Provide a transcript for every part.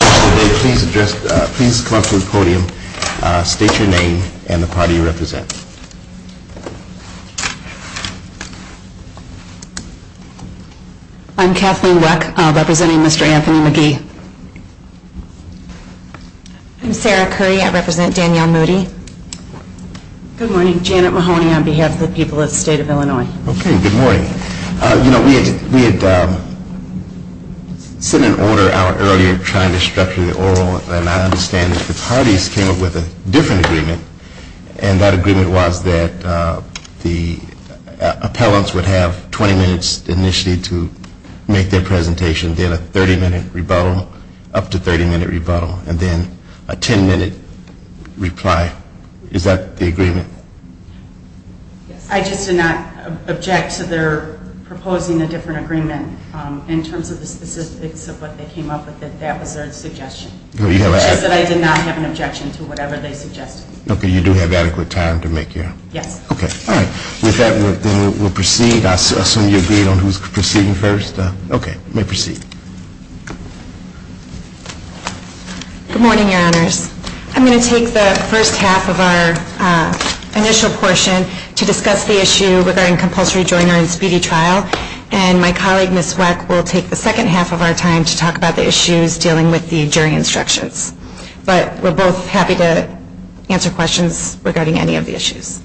Good morning, Janet Mahoney on behalf of the people of the state of Illinois. Okay, good morning. You know, we had sent an order an hour earlier trying to structure the oral, and I understand that the parties came up with a different agreement, and that agreement was that the appellants would have 20 minutes initially to make their presentation, then a 30-minute rebuttal, up to 30-minute rebuttal, and then a 10-minute reply. Is that the agreement? I just did not object to their proposing a different agreement. In terms of the specifics of what they came up with, that was their suggestion, which is that I did not have an objection to whatever they suggested. Okay, you do have adequate time to make your... Yes. Okay, all right. With that, we'll proceed. I assume you agreed on who's proceeding first? Okay, you may proceed. Good morning, Your Honors. I'm going to take the first half of our initial portion to discuss the issue regarding compulsory joiner and speedy trial, and my colleague, Ms. Weck, will take the second half of our time to talk about the issues dealing with the jury instructions. But we're both happy to answer questions regarding any of the issues.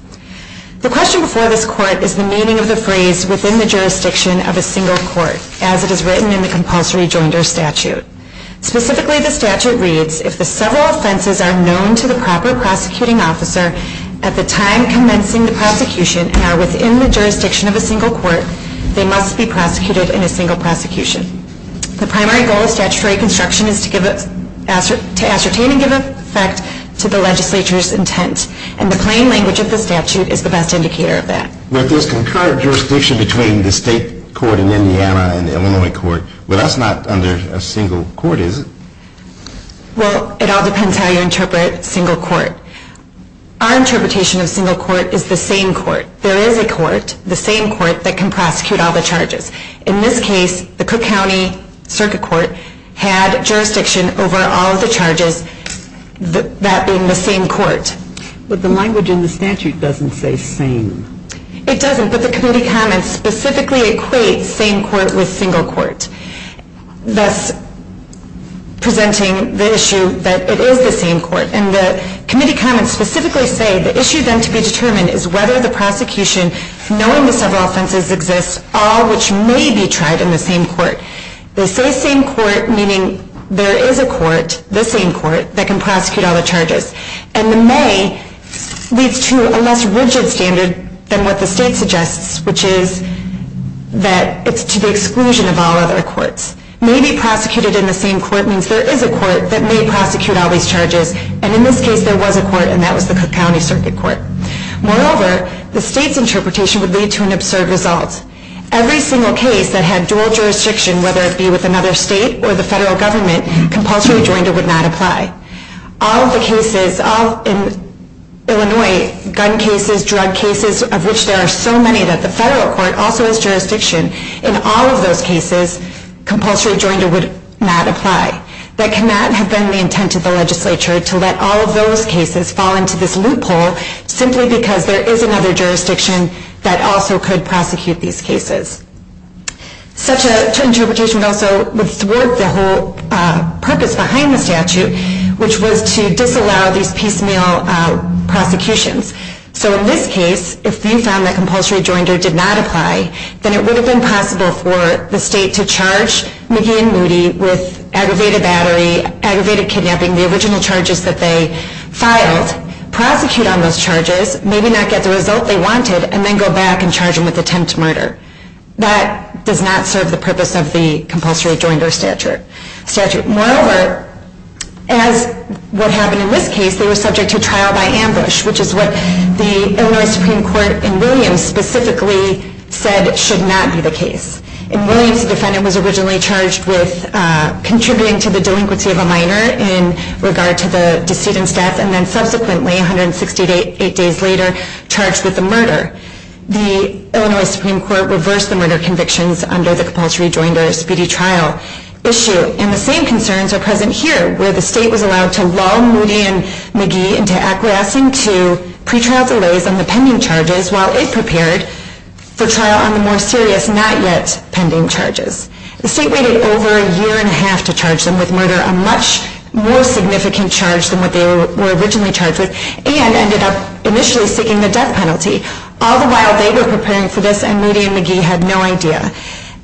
The question before this court is the meaning of the phrase, within the jurisdiction of a single court, as it is written in the compulsory joiner statute. Specifically, the statute reads, if the several offenses are known to the proper prosecuting officer at the time commencing the prosecution and are within the jurisdiction of a single court, they must be prosecuted in a single prosecution. The primary goal of statutory construction is to ascertain and give effect to the legislature's intent, and the plain language of the statute is the best indicator of that. But there's concurrent jurisdiction between the state court in Indiana and the Illinois court, but that's not under a single court, is it? Well, it all depends on how you interpret single court. Our interpretation of single court is the same court. There is a court, the same court, that can prosecute all the charges. In this case, the Cook County Circuit Court had jurisdiction over all of the charges, that being the same court. But the language in the statute doesn't say same. It doesn't, but the committee comments specifically equate same court with single court, thus presenting the issue that it is the same court. And the committee comments specifically say the issue then to be determined is whether the prosecution, knowing the several offenses exist, all which may be tried in the same court. They say same court, meaning there is a court, the same court, that can prosecute all the charges. And the may leads to a less rigid standard than what the state suggests, which is that it's to the exclusion of all other courts. May be prosecuted in the same court means there is a court that may prosecute all these charges, and in this case there was a court, and that was the Cook County Circuit Court. Moreover, the state's interpretation would lead to an absurd result. Every single case that had dual jurisdiction, whether it be with another state or the federal government, compulsory joinder would not apply. All of the cases, all in Illinois, gun cases, drug cases, of which there are so many that the federal court also has jurisdiction, in all of those cases, compulsory joinder would not apply. That cannot have been the intent of the legislature to let all of those cases fall into this loophole simply because there is another jurisdiction that also could prosecute these cases. Such an interpretation also would thwart the whole purpose behind the statute, which was to disallow these piecemeal prosecutions. So in this case, if you found that compulsory joinder did not apply, then it would have been possible for the state to charge McGee and Moody with aggravated battery, aggravated kidnapping, the original charges that they filed, prosecute on those charges, maybe not get the result they wanted, and then go back and charge them with attempt to murder. That does not serve the purpose of the compulsory joinder statute. Moreover, as what happened in this case, they were subject to trial by ambush, which is what the Illinois Supreme Court in Williams specifically said should not be the case. In Williams, the defendant was originally charged with contributing to the delinquency of a minor in regard to the decedent's death and then subsequently, 168 days later, charged with the murder. The Illinois Supreme Court reversed the murder convictions under the compulsory joinder speedy trial issue. And the same concerns are present here, where the state was allowed to lull Moody and McGee into acquiescing to pre-trial delays on the pending charges while it prepared for trial on the more serious, not yet pending charges. The state waited over a year and a half to charge them with murder, a much more significant charge than what they were originally charged with, and ended up initially seeking the death penalty. All the while they were preparing for this and Moody and McGee had no idea.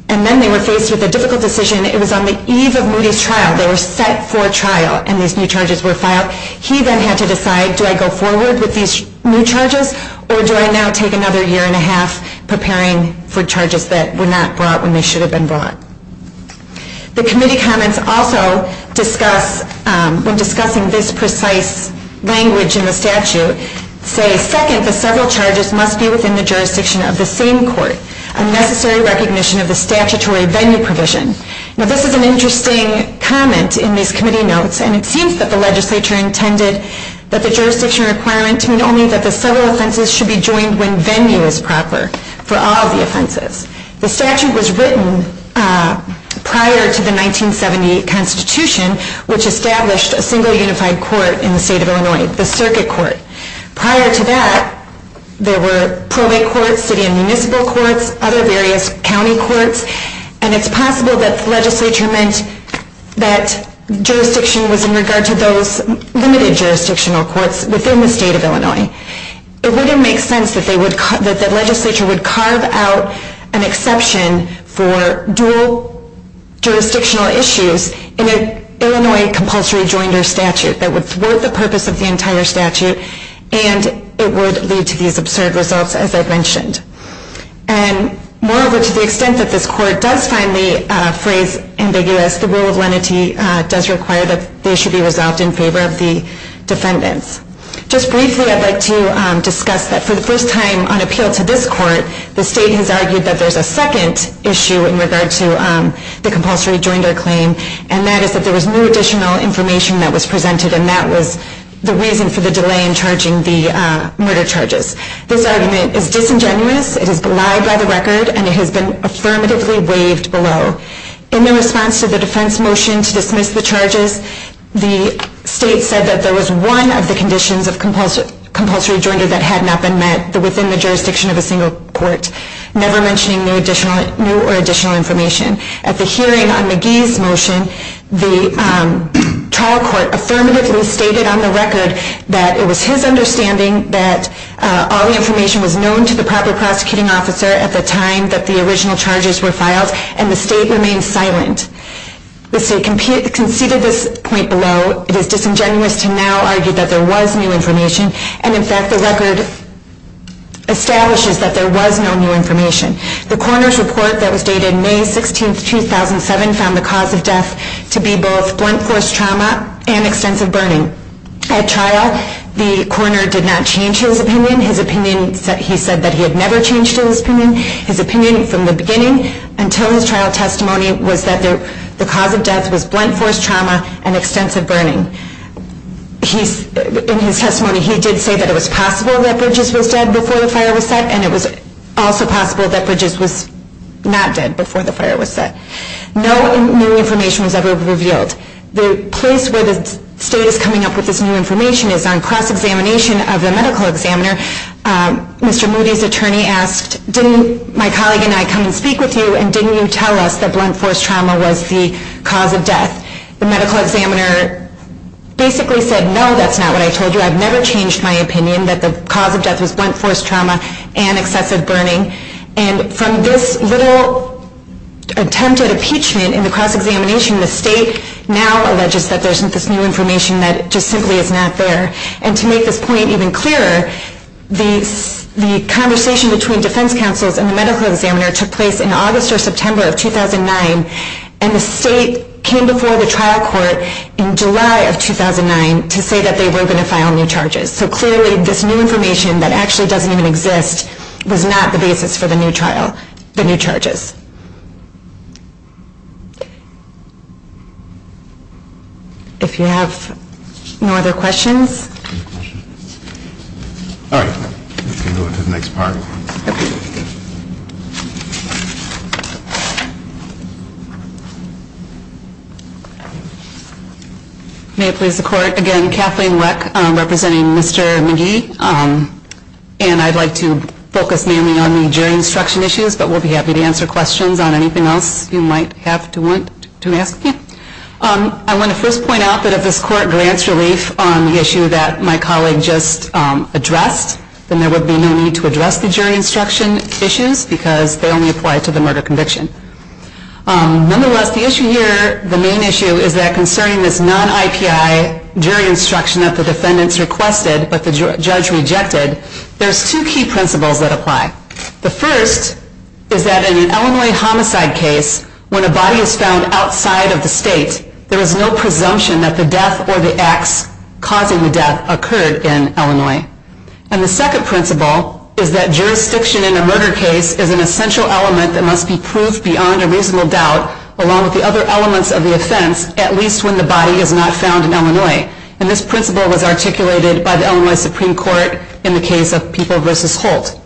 And then they were faced with a difficult decision. It was on the eve of Moody's trial. They were set for trial and these new charges were filed. He then had to decide, do I go forward with these new charges or do I now take another year and a half preparing for charges that were not brought when they should have been brought? The committee comments also discuss, when discussing this precise language in the statute, say, Second, the several charges must be within the jurisdiction of the same court. Unnecessary recognition of the statutory venue provision. Now this is an interesting comment in these committee notes and it seems that the legislature intended that the jurisdiction requirement to mean only that the several offenses should be joined when venue is proper for all the offenses. The statute was written prior to the 1970 constitution, which established a single unified court in the state of Illinois, the circuit court. Prior to that, there were probate courts, city and municipal courts, other various county courts, and it's possible that the legislature meant that jurisdiction was in regard to those limited jurisdictional courts within the state of Illinois. It wouldn't make sense that the legislature would carve out an exception for dual jurisdictional issues in an Illinois compulsory joinder statute that would thwart the purpose of the entire statute and it would lead to these absurd results as I've mentioned. And moreover, to the extent that this court does find the phrase ambiguous, the rule of lenity does require that they should be resolved in favor of the defendants. Just briefly, I'd like to discuss that for the first time on appeal to this court, the state has argued that there's a second issue in regard to the compulsory joinder claim, and that is that there was no additional information that was presented and that was the reason for the delay in charging the murder charges. This argument is disingenuous, it has been lied by the record, and it has been affirmatively waived below. In the response to the defense motion to dismiss the charges, the state said that there was one of the conditions of compulsory joinder that had not been met within the jurisdiction of a single court, never mentioning new or additional information. At the hearing on McGee's motion, the trial court affirmatively stated on the record that it was his understanding that all the information was known to the proper prosecuting officer at the time that the original charges were filed, and the state remained silent. The state conceded this point below. It is disingenuous to now argue that there was new information, and in fact the record establishes that there was no new information. The coroner's report that was dated May 16, 2007 found the cause of death to be both blunt force trauma and extensive burning. At trial, the coroner did not change his opinion. He said that he had never changed his opinion. His opinion from the beginning until his trial testimony was that the cause of death was blunt force trauma and extensive burning. In his testimony, he did say that it was possible that Bridges was dead before the fire was set, and it was also possible that Bridges was not dead before the fire was set. No new information was ever revealed. The place where the state is coming up with this new information is on cross-examination of the medical examiner. Mr. Moody's attorney asked, didn't my colleague and I come and speak with you, and didn't you tell us that blunt force trauma was the cause of death? The medical examiner basically said, no, that's not what I told you. I've never changed my opinion that the cause of death was blunt force trauma and excessive burning. And from this little attempt at impeachment in the cross-examination, the state now alleges that there's this new information that just simply is not there. And to make this point even clearer, the conversation between defense counsels and the medical examiner took place in August or September of 2009, and the state came before the trial court in July of 2009 to say that they were going to file new charges. So clearly, this new information that actually doesn't even exist was not the basis for the new trial, the new charges. If you have no other questions. All right, let's move on to the next part. May it please the court, again, Kathleen Weck representing Mr. McGee. And I'd like to focus mainly on the jury instruction issues, but we'll be happy to answer questions on anything else you might have to want to ask. I want to first point out that if this court grants relief on the issue that my colleague just addressed, then there would be no need to address the jury instruction issues because they only apply to the murder conviction. Nonetheless, the issue here, the main issue, is that concerning this non-IPI jury instruction that the defendants requested but the judge rejected, the first is that in an Illinois homicide case, when a body is found outside of the state, there is no presumption that the death or the acts causing the death occurred in Illinois. And the second principle is that jurisdiction in a murder case is an essential element that must be proved beyond a reasonable doubt, along with the other elements of the offense, at least when the body is not found in Illinois. And this principle was articulated by the Illinois Supreme Court in the case of People v. Holt.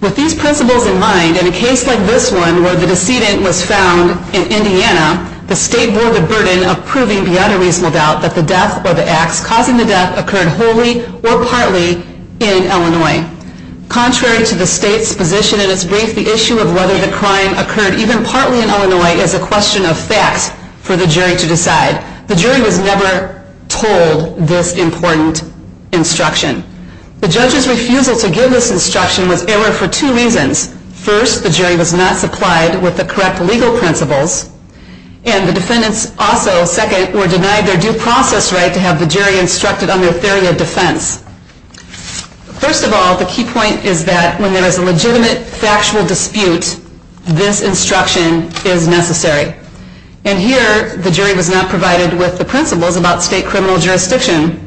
With these principles in mind, in a case like this one where the decedent was found in Indiana, the state bore the burden of proving beyond a reasonable doubt that the death or the acts causing the death occurred wholly or partly in Illinois. Contrary to the state's position in its brief, the issue of whether the crime occurred even partly in Illinois is a question of facts for the jury to decide. The jury was never told this important instruction. The judge's refusal to give this instruction was error for two reasons. First, the jury was not supplied with the correct legal principles. And the defendants also, second, were denied their due process right to have the jury instructed on their theory of defense. First of all, the key point is that when there is a legitimate factual dispute, this instruction is necessary. And here, the jury was not provided with the principles about state criminal jurisdiction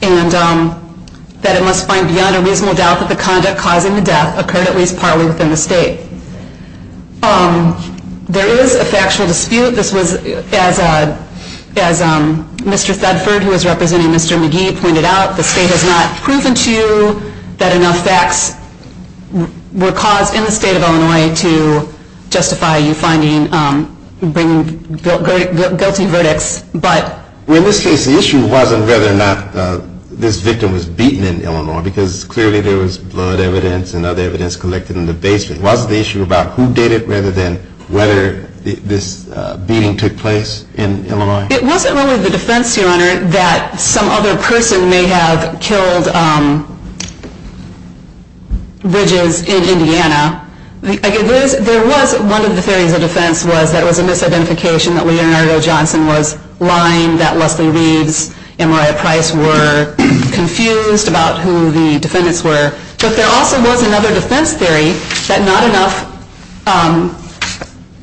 and that it must find beyond a reasonable doubt that the conduct causing the death occurred at least partly within the state. There is a factual dispute. This was, as Mr. Thedford, who was representing Mr. McGee, pointed out, the state has not proven to you that enough facts were caused in the state of Illinois to justify you finding, bringing guilty verdicts. But in this case, the issue wasn't whether or not this victim was beaten in Illinois, because clearly there was blood evidence and other evidence collected in the basement. Was the issue about who did it rather than whether this beating took place in Illinois? It wasn't really the defense, Your Honor, that some other person may have killed Bridges in Indiana. There was one of the theories of defense was that it was a misidentification that Leonardo Johnson was lying, that Leslie Reeves and Moriah Price were confused about who the defendants were. But there also was another defense theory that not enough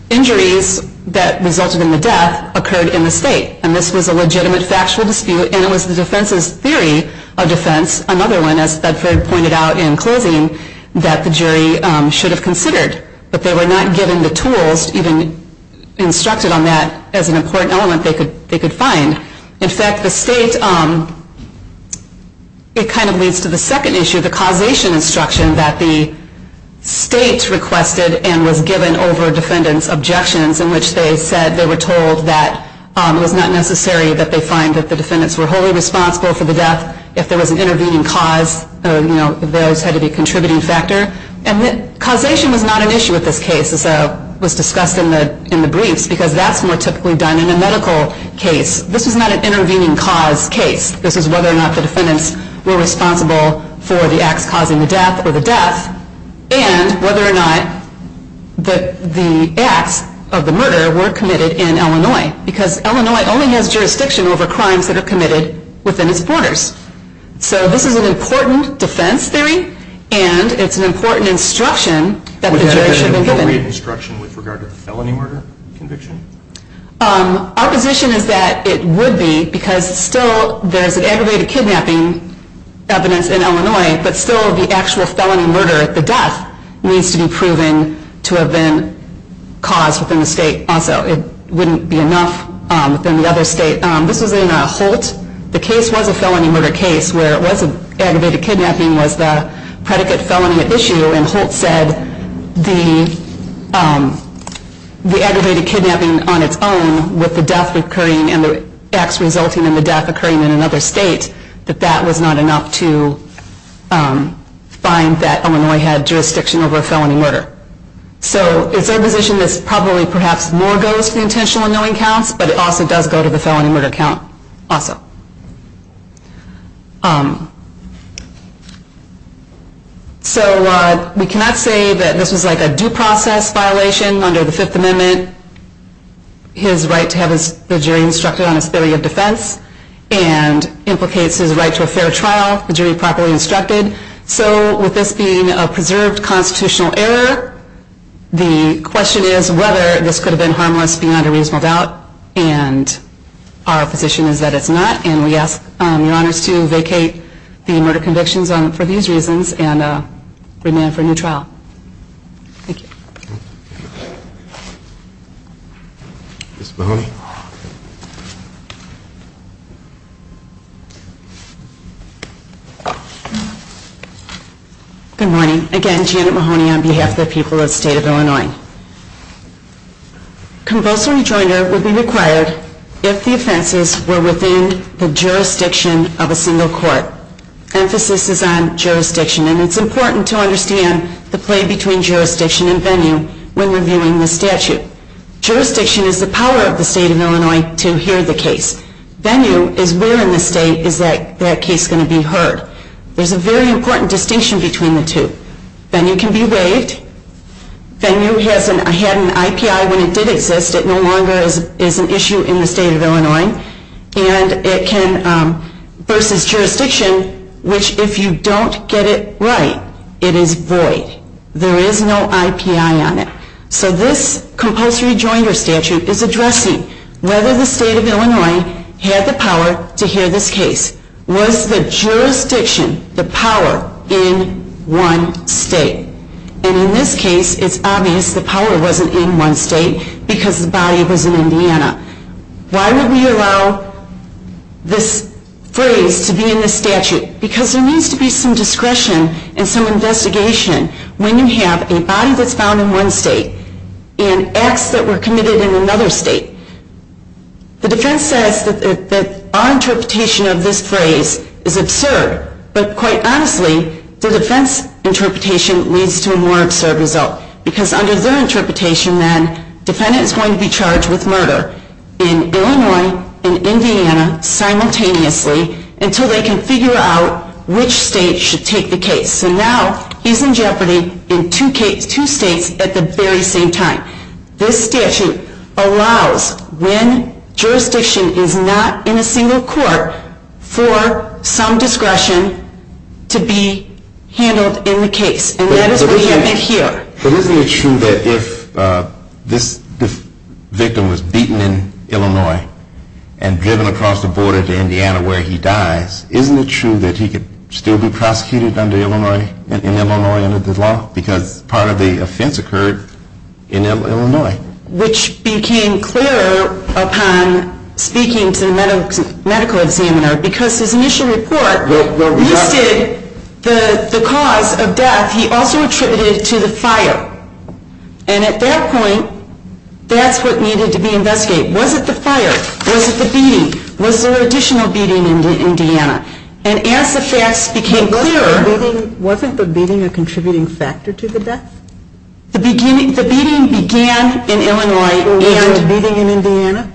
injuries that resulted in the death occurred in the state. And this was a legitimate factual dispute, and it was the defense's theory of defense, another one, as Thedford pointed out in closing, that the jury should have considered. But they were not given the tools, even instructed on that, as an important element they could find. In fact, the state, it kind of leads to the second issue, the causation instruction that the state requested and was given over defendants' objections in which they said they were told that it was not necessary that they find that the defendants were wholly responsible for the death. If there was an intervening cause, those had to be a contributing factor. And causation was not an issue with this case, as was discussed in the briefs, because that's more typically done in a medical case. This was not an intervening cause case. This was whether or not the defendants were responsible for the acts causing the death or the death, and whether or not the acts of the murder were committed in Illinois, because Illinois only has jurisdiction over crimes that are committed within its borders. So this is an important defense theory, and it's an important instruction that the jury should have been given. Is there a theory of instruction with regard to the felony murder conviction? Our position is that it would be, because still there's an aggravated kidnapping evidence in Illinois, but still the actual felony murder, the death, needs to be proven to have been caused within the state also. It wouldn't be enough within the other state. This was in Holt. The case was a felony murder case where it was an aggravated kidnapping was the predicate felony issue, and Holt said the aggravated kidnapping on its own with the death occurring and the acts resulting in the death occurring in another state, that that was not enough to find that Illinois had jurisdiction over a felony murder. So it's our position that probably perhaps more goes to the intentional unknowing counts, but it also does go to the felony murder count also. So we cannot say that this was like a due process violation under the Fifth Amendment. His right to have the jury instructed on his theory of defense and implicates his right to a fair trial, the jury properly instructed. So with this being a preserved constitutional error, the question is whether this could have been harmless beyond a reasonable doubt, and our position is that it's not, and we ask your honors to vacate the murder convictions for these reasons and remand for a new trial. Thank you. Ms. Mahoney. Good morning. Again, Janet Mahoney on behalf of the people of the state of Illinois. Convulsory joiner would be required if the offenses were within the jurisdiction of a single court. Emphasis is on jurisdiction, and it's important to understand the play between jurisdiction and venue when reviewing the statute. Jurisdiction is the power of the state of Illinois to hear the case. Venue is where in the state is that case going to be heard. There's a very important distinction between the two. Venue can be waived. Venue had an IPI when it did exist. It no longer is an issue in the state of Illinois. And it can, versus jurisdiction, which if you don't get it right, it is void. There is no IPI on it. So this compulsory joiner statute is addressing whether the state of Illinois had the power to hear this case. Was the jurisdiction the power in one state? And in this case, it's obvious the power wasn't in one state because the body was in Indiana. Why would we allow this phrase to be in the statute? Because there needs to be some discretion and some investigation when you have a body that's found in one state and acts that were committed in another state. The defense says that our interpretation of this phrase is absurd, but quite honestly, the defense interpretation leads to a more absurd result because under their interpretation, then, defendant is going to be charged with murder in Illinois and Indiana simultaneously until they can figure out which state should take the case. So now he's in jeopardy in two states at the very same time. This statute allows when jurisdiction is not in a single court for some discretion to be handled in the case. And that is what you have in here. But isn't it true that if this victim was beaten in Illinois and driven across the border to Indiana where he dies, isn't it true that he could still be prosecuted in Illinois under the law? Because part of the offense occurred in Illinois. Which became clearer upon speaking to the medical examiner because his initial report listed the cause of death. He also attributed it to the fire. And at that point, that's what needed to be investigated. Was it the fire? Was it the beating? Was there additional beating in Indiana? And as the facts became clearer... Wasn't the beating a contributing factor to the death? The beating began in Illinois and... Was there a beating in Indiana?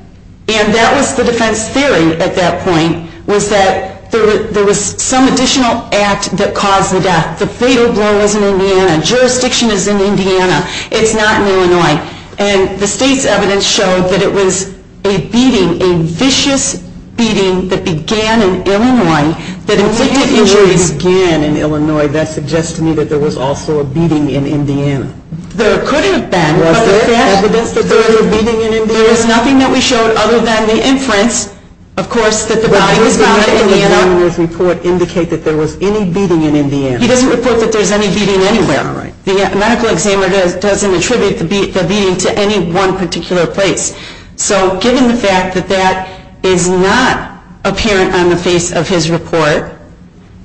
And that was the defense theory at that point was that there was some additional act that caused the death. The fatal blow was in Indiana. It's not in Illinois. And the state's evidence showed that it was a beating, a vicious beating that began in Illinois that inflicted injuries... When you say it began in Illinois, that suggests to me that there was also a beating in Indiana. There could have been. Was there evidence that there was a beating in Indiana? There is nothing that we showed other than the inference, of course, that the body was found in Indiana. But didn't the medical examiner's report indicate that there was any beating in Indiana? He doesn't report that there's any beating anywhere. The medical examiner doesn't attribute the beating to any one particular place. So given the fact that that is not apparent on the face of his report...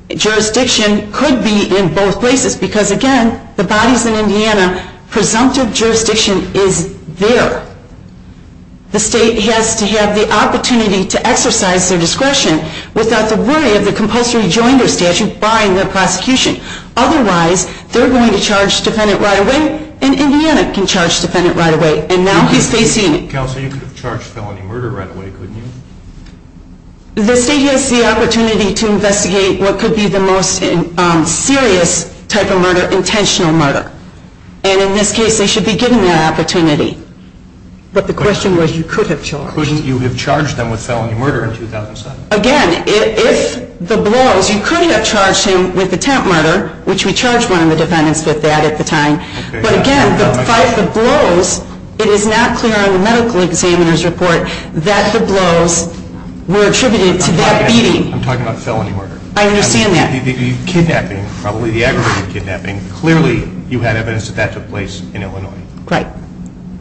Jurisdiction could be in both places because, again, the bodies in Indiana... Presumptive jurisdiction is there. The state has to have the opportunity to exercise their discretion without the worry of the compulsory joinder statute barring their prosecution. Otherwise, they're going to charge the defendant right away, and Indiana can charge the defendant right away. And now he's facing... Counselor, you could have charged felony murder right away, couldn't you? The state has the opportunity to investigate what could be the most serious type of murder, intentional murder. And in this case, they should be given that opportunity. But the question was, you could have charged... Couldn't you have charged them with felony murder in 2007? Again, if the blows... You could have charged him with attempt murder, which we charged one of the defendants with that at the time. But again, if the blows... It is not clear on the medical examiner's report that the blows were attributed to that beating. I'm talking about felony murder. I understand that. The kidnapping, probably the aggravated kidnapping, clearly you had evidence that that took place in Illinois. Right.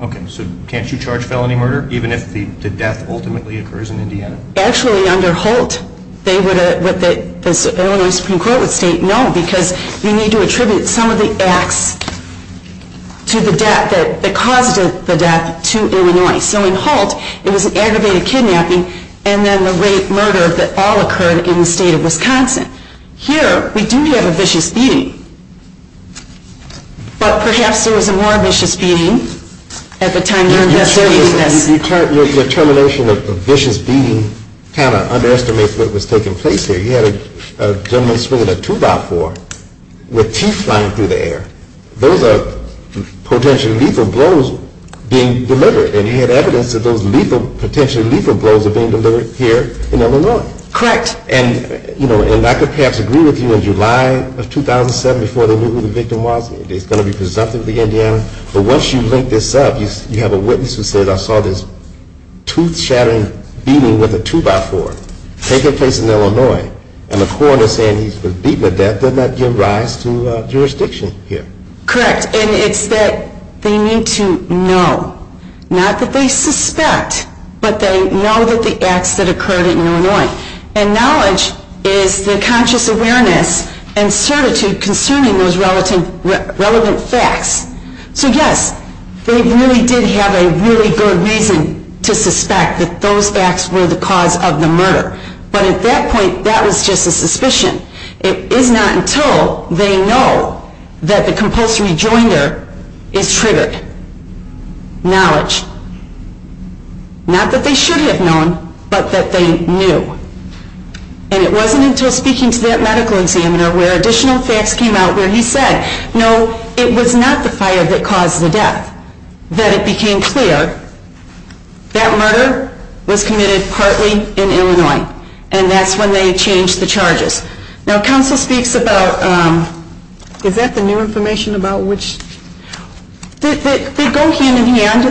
Okay, so can't you charge felony murder even if the death ultimately occurs in Indiana? Actually, under Holt, they would... The Illinois Supreme Court would state, no, because you need to attribute some of the acts to the death that caused the death to Illinois. So in Holt, it was an aggravated kidnapping and then the rape, murder that all occurred in the state of Wisconsin. Here, we do have a vicious beating. But perhaps there was a more vicious beating at the time during this case. Your termination of vicious beating kind of underestimates what was taking place here. You had a gentleman swinging a two-by-four with teeth flying through the air. Those are potentially lethal blows being delivered. And you had evidence that those potentially lethal blows were being delivered here in Illinois. Correct. And I could perhaps agree with you, in July of 2007, before they knew who the victim was, it's going to be presumptively Indiana. But once you link this up, you have a witness who says, I saw this tooth-shattering beating with a two-by-four taking place in Illinois. And the coroner saying he was beaten to death does not give rise to jurisdiction here. Correct. And it's that they need to know, not that they suspect, but they know that the acts that occurred in Illinois. And knowledge is the conscious awareness and certitude concerning those relevant facts. So, yes, they really did have a really good reason to suspect that those facts were the cause of the murder. But at that point, that was just a suspicion. It is not until they know that the compulsory joinder is triggered, knowledge. Not that they should have known, but that they knew. And it wasn't until speaking to that medical examiner where additional facts came out where he said, no, it was not the fire that caused the death, that it became clear that murder was committed partly in Illinois. And that's when they changed the charges. Now, counsel speaks about, is that the new information about which? They go hand in hand,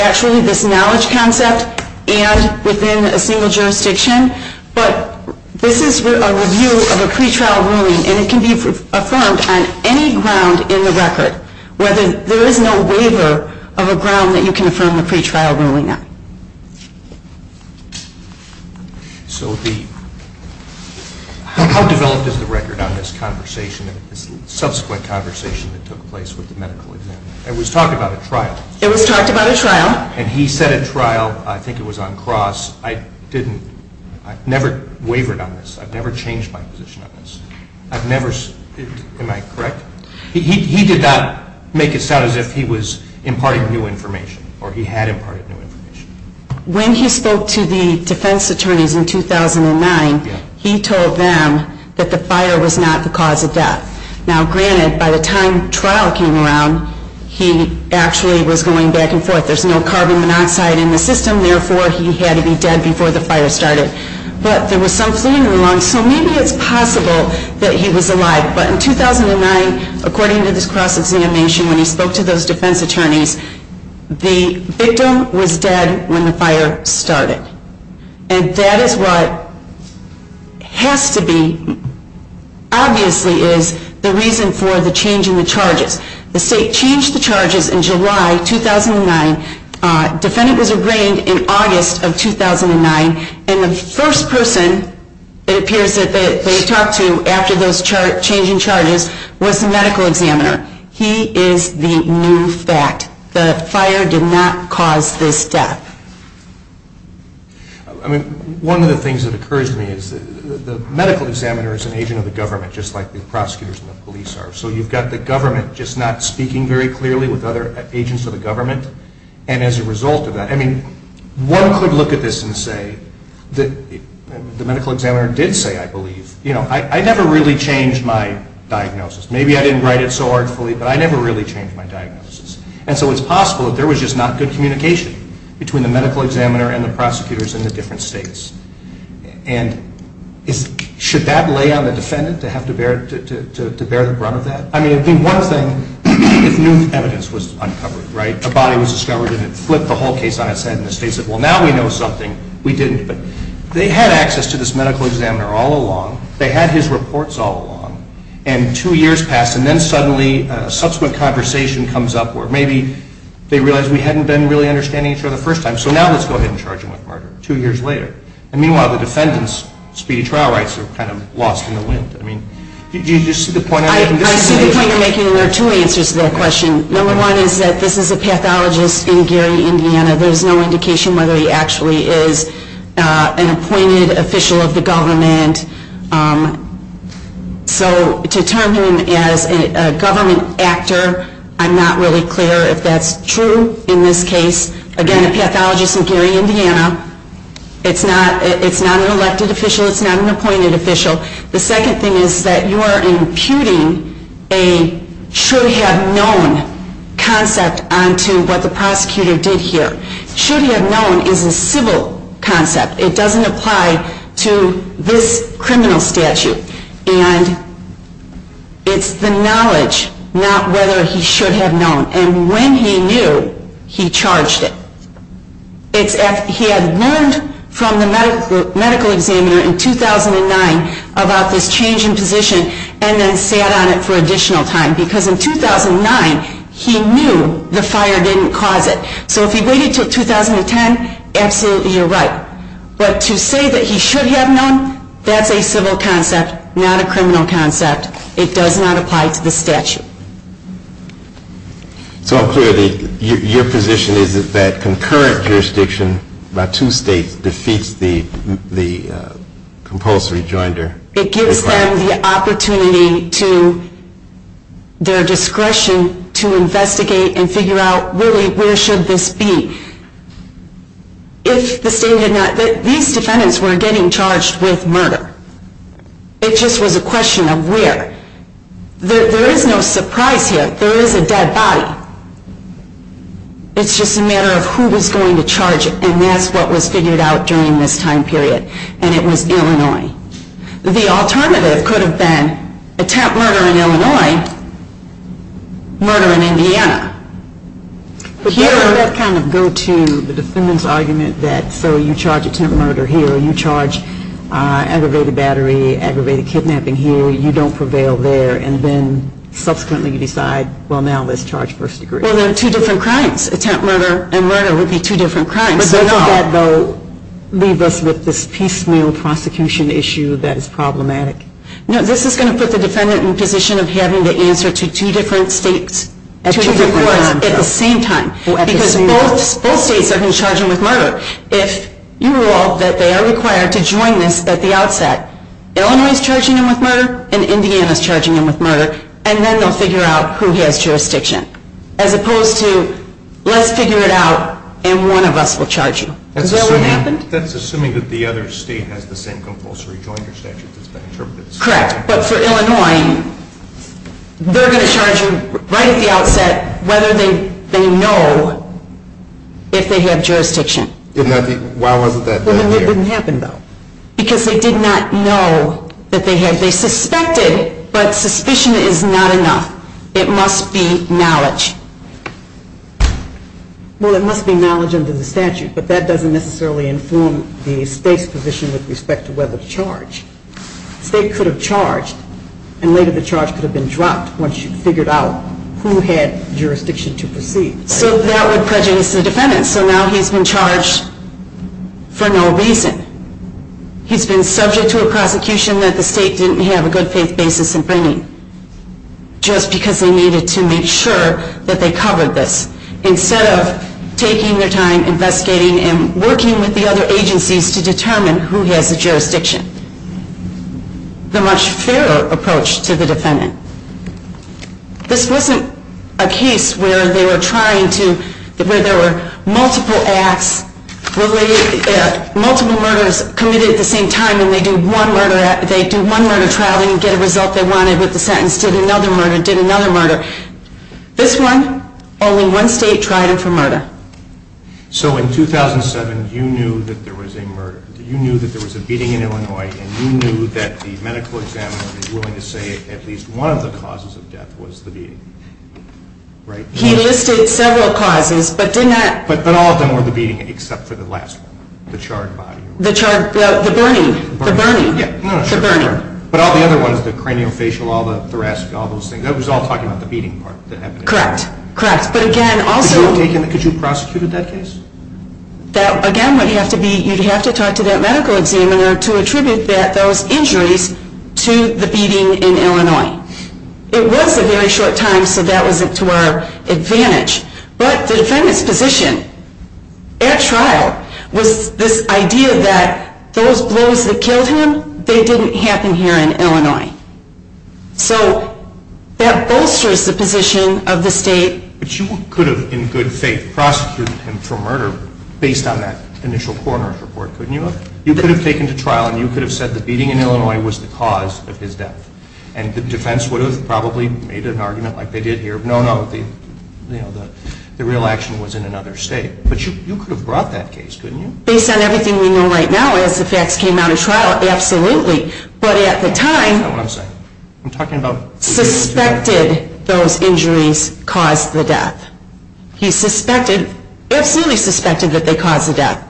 actually, this knowledge concept and within a single jurisdiction. But this is a review of a pretrial ruling, and it can be affirmed on any ground in the record, whether there is no waiver of a ground that you can affirm a pretrial ruling on. So how developed is the record on this conversation, this subsequent conversation that took place with the medical examiner? It was talked about at trial. It was talked about at trial. And he said at trial, I think it was on cross. I didn't, I never wavered on this. I've never changed my position on this. I've never, am I correct? He did not make it sound as if he was imparting new information, or he had imparted new information. When he spoke to the defense attorneys in 2009, he told them that the fire was not the cause of death. Now, granted, by the time trial came around, he actually was going back and forth. There's no carbon monoxide in the system, therefore, he had to be dead before the fire started. But there was some fluid in the lungs, so maybe it's possible that he was alive. But in 2009, according to this cross-examination, when he spoke to those defense attorneys, the victim was dead when the fire started. And that is what has to be, obviously, is the reason for the change in the charges. The state changed the charges in July 2009. Defendant was arraigned in August of 2009. And the first person, it appears, that they talked to after those changing charges was the medical examiner. He is the new fact. The fire did not cause this death. I mean, one of the things that occurs to me is the medical examiner is an agent of the government, just like the prosecutors and the police are. So you've got the government just not speaking very clearly with other agents of the government. And as a result of that, I mean, one could look at this and say, the medical examiner did say, I believe, you know, I never really changed my diagnosis. Maybe I didn't write it so artfully, but I never really changed my diagnosis. And so it's possible that there was just not good communication between the medical examiner and the prosecutors in the different states. And should that lay on the defendant to have to bear the brunt of that? I mean, it would be one thing if new evidence was uncovered, right? A body was discovered and it flipped the whole case on its head. And the state said, well, now we know something. We didn't. But they had access to this medical examiner all along. They had his reports all along. And two years passed. And then suddenly a subsequent conversation comes up where maybe they realize we hadn't been really understanding each other the first time. So now let's go ahead and charge him with murder two years later. And meanwhile, the defendant's speedy trial rights are kind of lost in the wind. I mean, do you see the point I'm making? I see the point you're making, and there are two answers to that question. Number one is that this is a pathologist in Gary, Indiana. There's no indication whether he actually is an appointed official of the government. So to term him as a government actor, I'm not really clear if that's true in this case. Again, a pathologist in Gary, Indiana. It's not an elected official. It's not an appointed official. The second thing is that you are imputing a should-have-known concept onto what the prosecutor did here. Should-have-known is a civil concept. It doesn't apply to this criminal statute. And it's the knowledge, not whether he should have known. And when he knew, he charged it. He had learned from the medical examiner in 2009 about this change in position and then sat on it for additional time because in 2009 he knew the fire didn't cause it. So if he waited until 2010, absolutely you're right. But to say that he should have known, that's a civil concept, not a criminal concept. It does not apply to the statute. So I'm clear that your position is that concurrent jurisdiction by two states defeats the compulsory joinder. It gives them the opportunity to their discretion to investigate and figure out really where should this be. If the state had not, these defendants were getting charged with murder. It just was a question of where. There is no surprise here. There is a dead body. It's just a matter of who was going to charge it. And that's what was figured out during this time period. And it was Illinois. The alternative could have been attempt murder in Illinois, murder in Indiana. Here let's kind of go to the defendant's argument that so you charge attempt murder here. You charge aggravated battery, aggravated kidnapping here. You don't prevail there. And then subsequently you decide, well, now let's charge first degree. Well, they're two different crimes. Attempt murder and murder would be two different crimes. But doesn't that, though, leave us with this piecemeal prosecution issue that is problematic? No, this is going to put the defendant in a position of having to answer to two different states at two different courts at the same time. Because both states are going to charge him with murder. If you rule out that they are required to join this at the outset, Illinois is charging him with murder and Indiana is charging him with murder, and then they'll figure out who has jurisdiction as opposed to let's figure it out and one of us will charge you. Is that what happened? That's assuming that the other state has the same compulsory joinder statute that's been interpreted. Correct. But for Illinois, they're going to charge you right at the outset whether they know if they have jurisdiction. Why wasn't that done here? It didn't happen, though. Because they did not know that they had. They suspected, but suspicion is not enough. It must be knowledge. Well, it must be knowledge under the statute, but that doesn't necessarily inform the state's position with respect to whether to charge. The state could have charged and later the charge could have been dropped once you figured out who had jurisdiction to proceed. So that would prejudice the defendant. So now he's been charged for no reason. He's been subject to a prosecution that the state didn't have a good faith basis in bringing just because they needed to make sure that they covered this instead of taking their time investigating and working with the other agencies to determine who has the jurisdiction. The much fairer approach to the defendant. This wasn't a case where they were trying to, where there were multiple acts, multiple murders committed at the same time and they do one murder trial, they didn't get a result they wanted with the sentence, did another murder, did another murder. This one, only one state tried him for murder. So in 2007, you knew that there was a murder. You knew that there was a beating in Illinois and you knew that the medical examiner was willing to say at least one of the causes of death was the beating, right? He listed several causes, but did not. But all of them were the beating except for the last one, the charred body. The charred, the burning, the burning. The burning. But all the other ones, the craniofacial, all the thoracic, all those things, that was all talking about the beating part. Correct, correct. But again, also. Could you have prosecuted that case? That, again, would have to be, you'd have to talk to that medical examiner to attribute those injuries to the beating in Illinois. It was a very short time, so that was to our advantage. But the defendant's position at trial was this idea that those blows that killed him, they didn't happen here in Illinois. So that bolsters the position of the state. But you could have, in good faith, prosecuted him for murder based on that initial coroner's report, couldn't you have? You could have taken to trial and you could have said the beating in Illinois was the cause of his death. And the defense would have probably made an argument like they did here, no, no, the real action was in another state. But you could have brought that case, couldn't you? Based on everything we know right now, as the facts came out of trial, absolutely. But at the time. Is that what I'm saying? I'm talking about. He suspected those injuries caused the death. He suspected, absolutely suspected that they caused the death.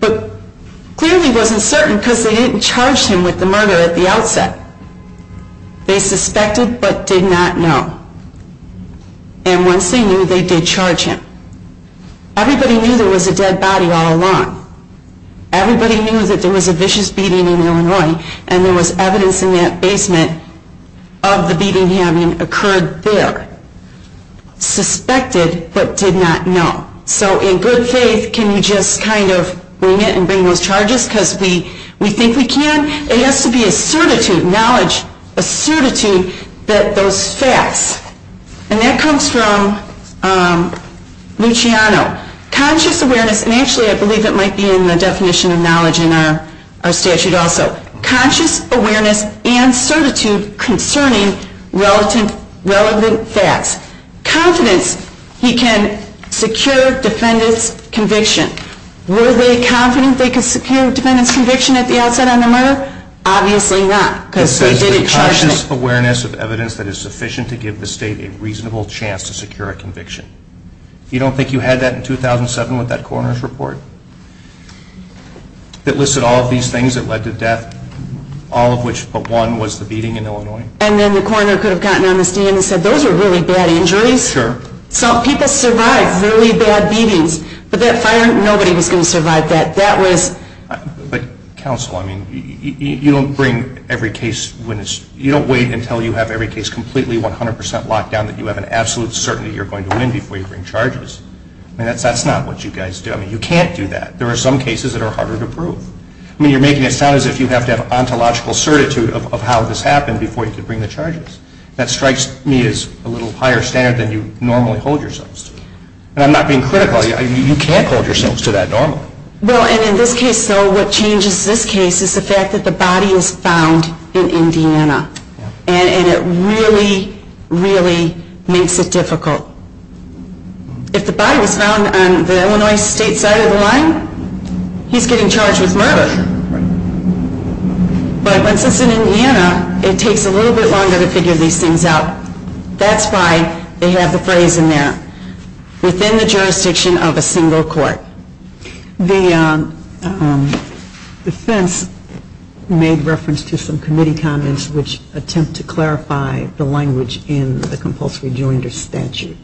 But clearly wasn't certain because they didn't charge him with the murder at the outset. They suspected but did not know. And once they knew, they did charge him. Everybody knew there was a dead body all along. Everybody knew that there was a vicious beating in Illinois and there was evidence in that basement of the beating having occurred there. Suspected but did not know. So in good faith, can you just kind of bring it and bring those charges? Because we think we can. It has to be a certitude, knowledge, a certitude that those facts. And that comes from Luciano. Conscious awareness, and actually I believe it might be in the definition of knowledge in our statute also. Conscious awareness and certitude concerning relevant facts. Confidence he can secure defendant's conviction. Were they confident they could secure defendant's conviction at the outset on the murder? Obviously not. Because they didn't charge him. Conscious awareness of evidence that is sufficient to give the state a reasonable chance to secure a conviction. You don't think you had that in 2007 with that coroner's report? That listed all of these things that led to death. All of which but one was the beating in Illinois. And then the coroner could have gotten on the stand and said those were really bad injuries. Sure. Some people survived really bad beatings. But that fire, nobody was going to survive that. But counsel, I mean, you don't bring every case when it's, you don't wait until you have every case completely 100% locked down that you have an absolute certainty you're going to win before you bring charges. I mean, that's not what you guys do. I mean, you can't do that. There are some cases that are harder to prove. I mean, you're making it sound as if you have to have ontological certitude of how this happened before you could bring the charges. That strikes me as a little higher standard than you normally hold yourselves to. And I'm not being critical. You can't hold yourselves to that normally. Well, and in this case, though, what changes this case is the fact that the body is found in Indiana. And it really, really makes it difficult. If the body was found on the Illinois State side of the line, he's getting charged with murder. But since it's in Indiana, it takes a little bit longer to figure these things out. That's why they have the phrase in there, within the jurisdiction of a single court. The defense made reference to some committee comments which attempt to clarify the language in the compulsory joinder statute,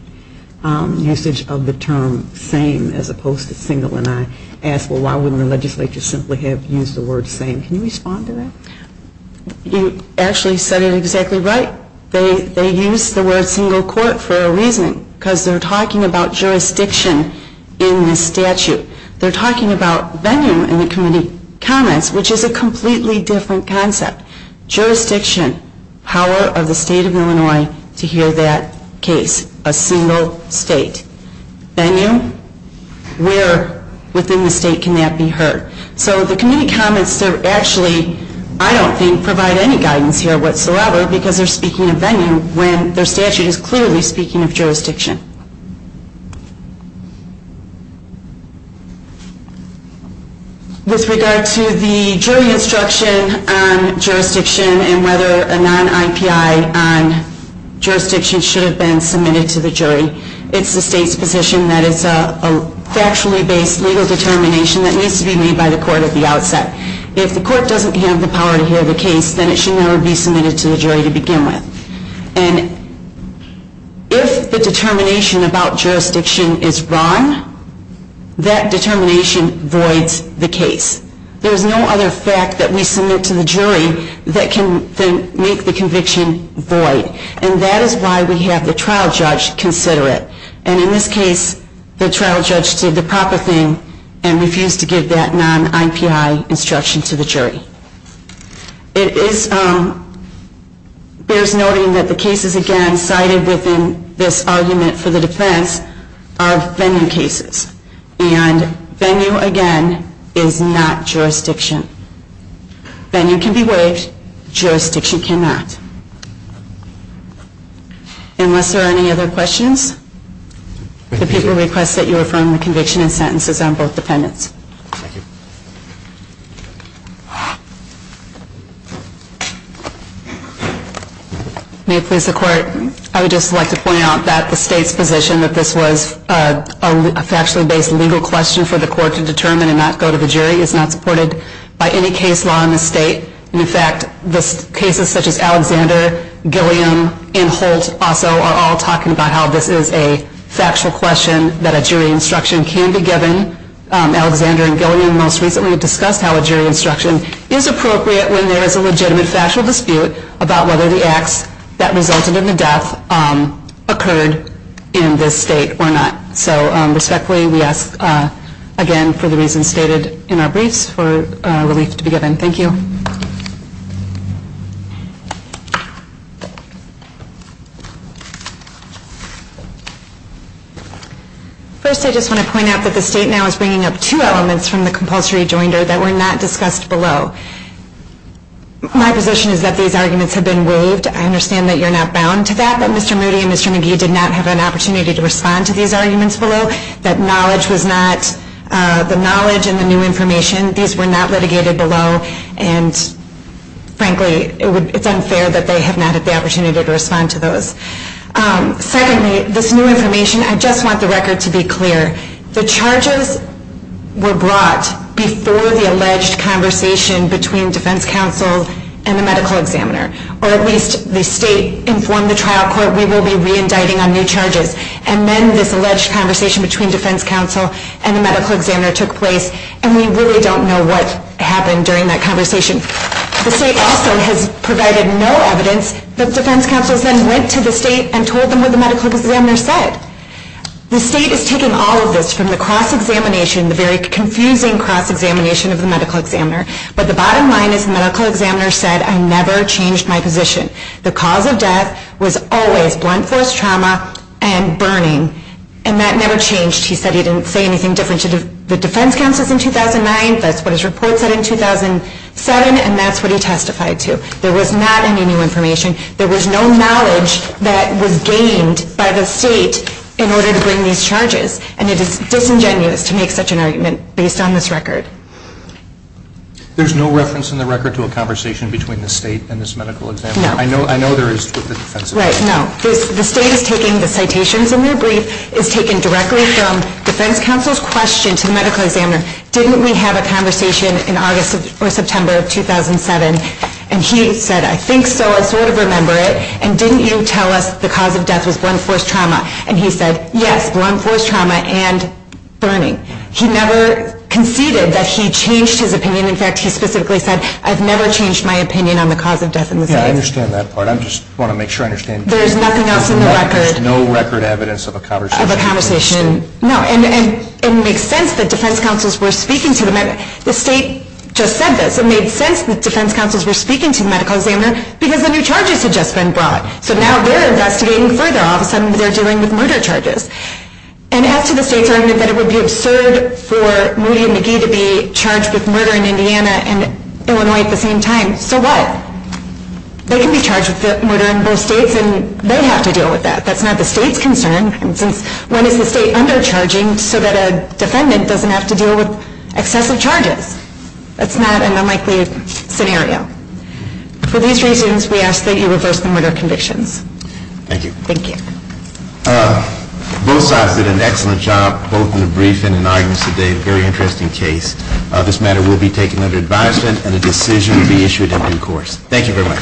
usage of the term same as opposed to single. And I ask, well, why wouldn't the legislature simply have used the word same? Can you respond to that? You actually said it exactly right. They used the word single court for a reason, because they're talking about jurisdiction in this statute. They're talking about venue in the committee comments, which is a completely different concept. Jurisdiction, power of the state of Illinois to hear that case, a single state. Venue, where within the state can that be heard? So the committee comments actually, I don't think, provide any guidance here whatsoever, because they're speaking of venue when their statute is clearly speaking of jurisdiction. With regard to the jury instruction on jurisdiction and whether a non-IPI on jurisdiction should have been submitted to the jury, it's the state's position that it's a factually based legal determination that needs to be made by the court at the outset. If the court doesn't have the power to hear the case, then it should never be submitted to the jury to begin with. And if the determination about jurisdiction is wrong, that determination voids the case. There's no other fact that we submit to the jury that can make the conviction void. And that is why we have the trial judge consider it. And in this case, the trial judge did the proper thing and refused to give that non-IPI instruction to the jury. There's noting that the cases, again, cited within this argument for the defense are venue cases. And venue, again, is not jurisdiction. Venue can be waived. Jurisdiction cannot. Unless there are any other questions, the people request that you affirm the conviction and sentences on both defendants. Thank you. May it please the court, I would just like to point out that the state's position that this was a factually based legal question for the court to determine and not go to the jury is not supported by any case law in the state. In fact, the cases such as Alexander, Gilliam, and Holt also are all talking about how this is a factual question that a jury instruction can be given. In fact, the state's position is that a jury instruction is appropriate when there is a legitimate factual dispute about whether the acts that resulted in the death occurred in this state or not. So respectfully, we ask, again, for the reasons stated in our briefs for relief to be given. Thank you. First, I just want to point out that the state now is bringing up two elements from the compulsory joinder that were not discussed below. My position is that these arguments have been waived. I understand that you're not bound to that, that Mr. Moody and Mr. McGee did not have an opportunity to respond to these arguments below, that knowledge was not, the knowledge and the new information, these were not litigated below. And frankly, it's unfair that they have not had the opportunity to respond to those. Secondly, this new information, I just want the record to be clear. The charges were brought before the alleged conversation between defense counsel and the medical examiner, or at least the state informed the trial court we will be reindicting on new charges. And then this alleged conversation between defense counsel and the medical examiner took place, and we really don't know what happened during that conversation. The state also has provided no evidence that defense counsels then went to the state and told them what the medical examiner said. The state is taking all of this from the cross-examination, the very confusing cross-examination of the medical examiner. But the bottom line is the medical examiner said, I never changed my position. The cause of death was always blunt force trauma and burning, and that never changed. He said he didn't say anything different to the defense counsels in 2009. That's what his report said in 2007, and that's what he testified to. There was not any new information. There was no knowledge that was gained by the state in order to bring these charges, and it is disingenuous to make such an argument based on this record. There's no reference in the record to a conversation between the state and this medical examiner? No. I know there is with the defense examiner. Right, no. The state is taking the citations in their brief, is taking directly from defense counsel's question to the medical examiner. Didn't we have a conversation in August or September of 2007? And he said, I think so, I sort of remember it. And didn't you tell us the cause of death was blunt force trauma? And he said, yes, blunt force trauma and burning. He never conceded that he changed his opinion. In fact, he specifically said, I've never changed my opinion on the cause of death in this case. Yeah, I understand that part. I just want to make sure I understand. There's nothing else in the record? There's no record evidence of a conversation. Of a conversation. No, and it makes sense that defense counsels were speaking to the medical examiner. The state just said this. It made sense that defense counsels were speaking to the medical examiner because the new charges had just been brought. So now they're investigating further. All of a sudden they're dealing with murder charges. And as to the state's argument that it would be absurd for Rudy McGee to be charged with murder in Indiana and Illinois at the same time. So what? They can be charged with murder in both states and they have to deal with that. That's not the state's concern. When is the state undercharging so that a defendant doesn't have to deal with excessive charges? That's not an unlikely scenario. For these reasons, we ask that you reverse the murder convictions. Thank you. Thank you. Both sides did an excellent job both in the briefing and in arguments today. A very interesting case. This matter will be taken under advisement and a decision will be issued in due course. Thank you very much.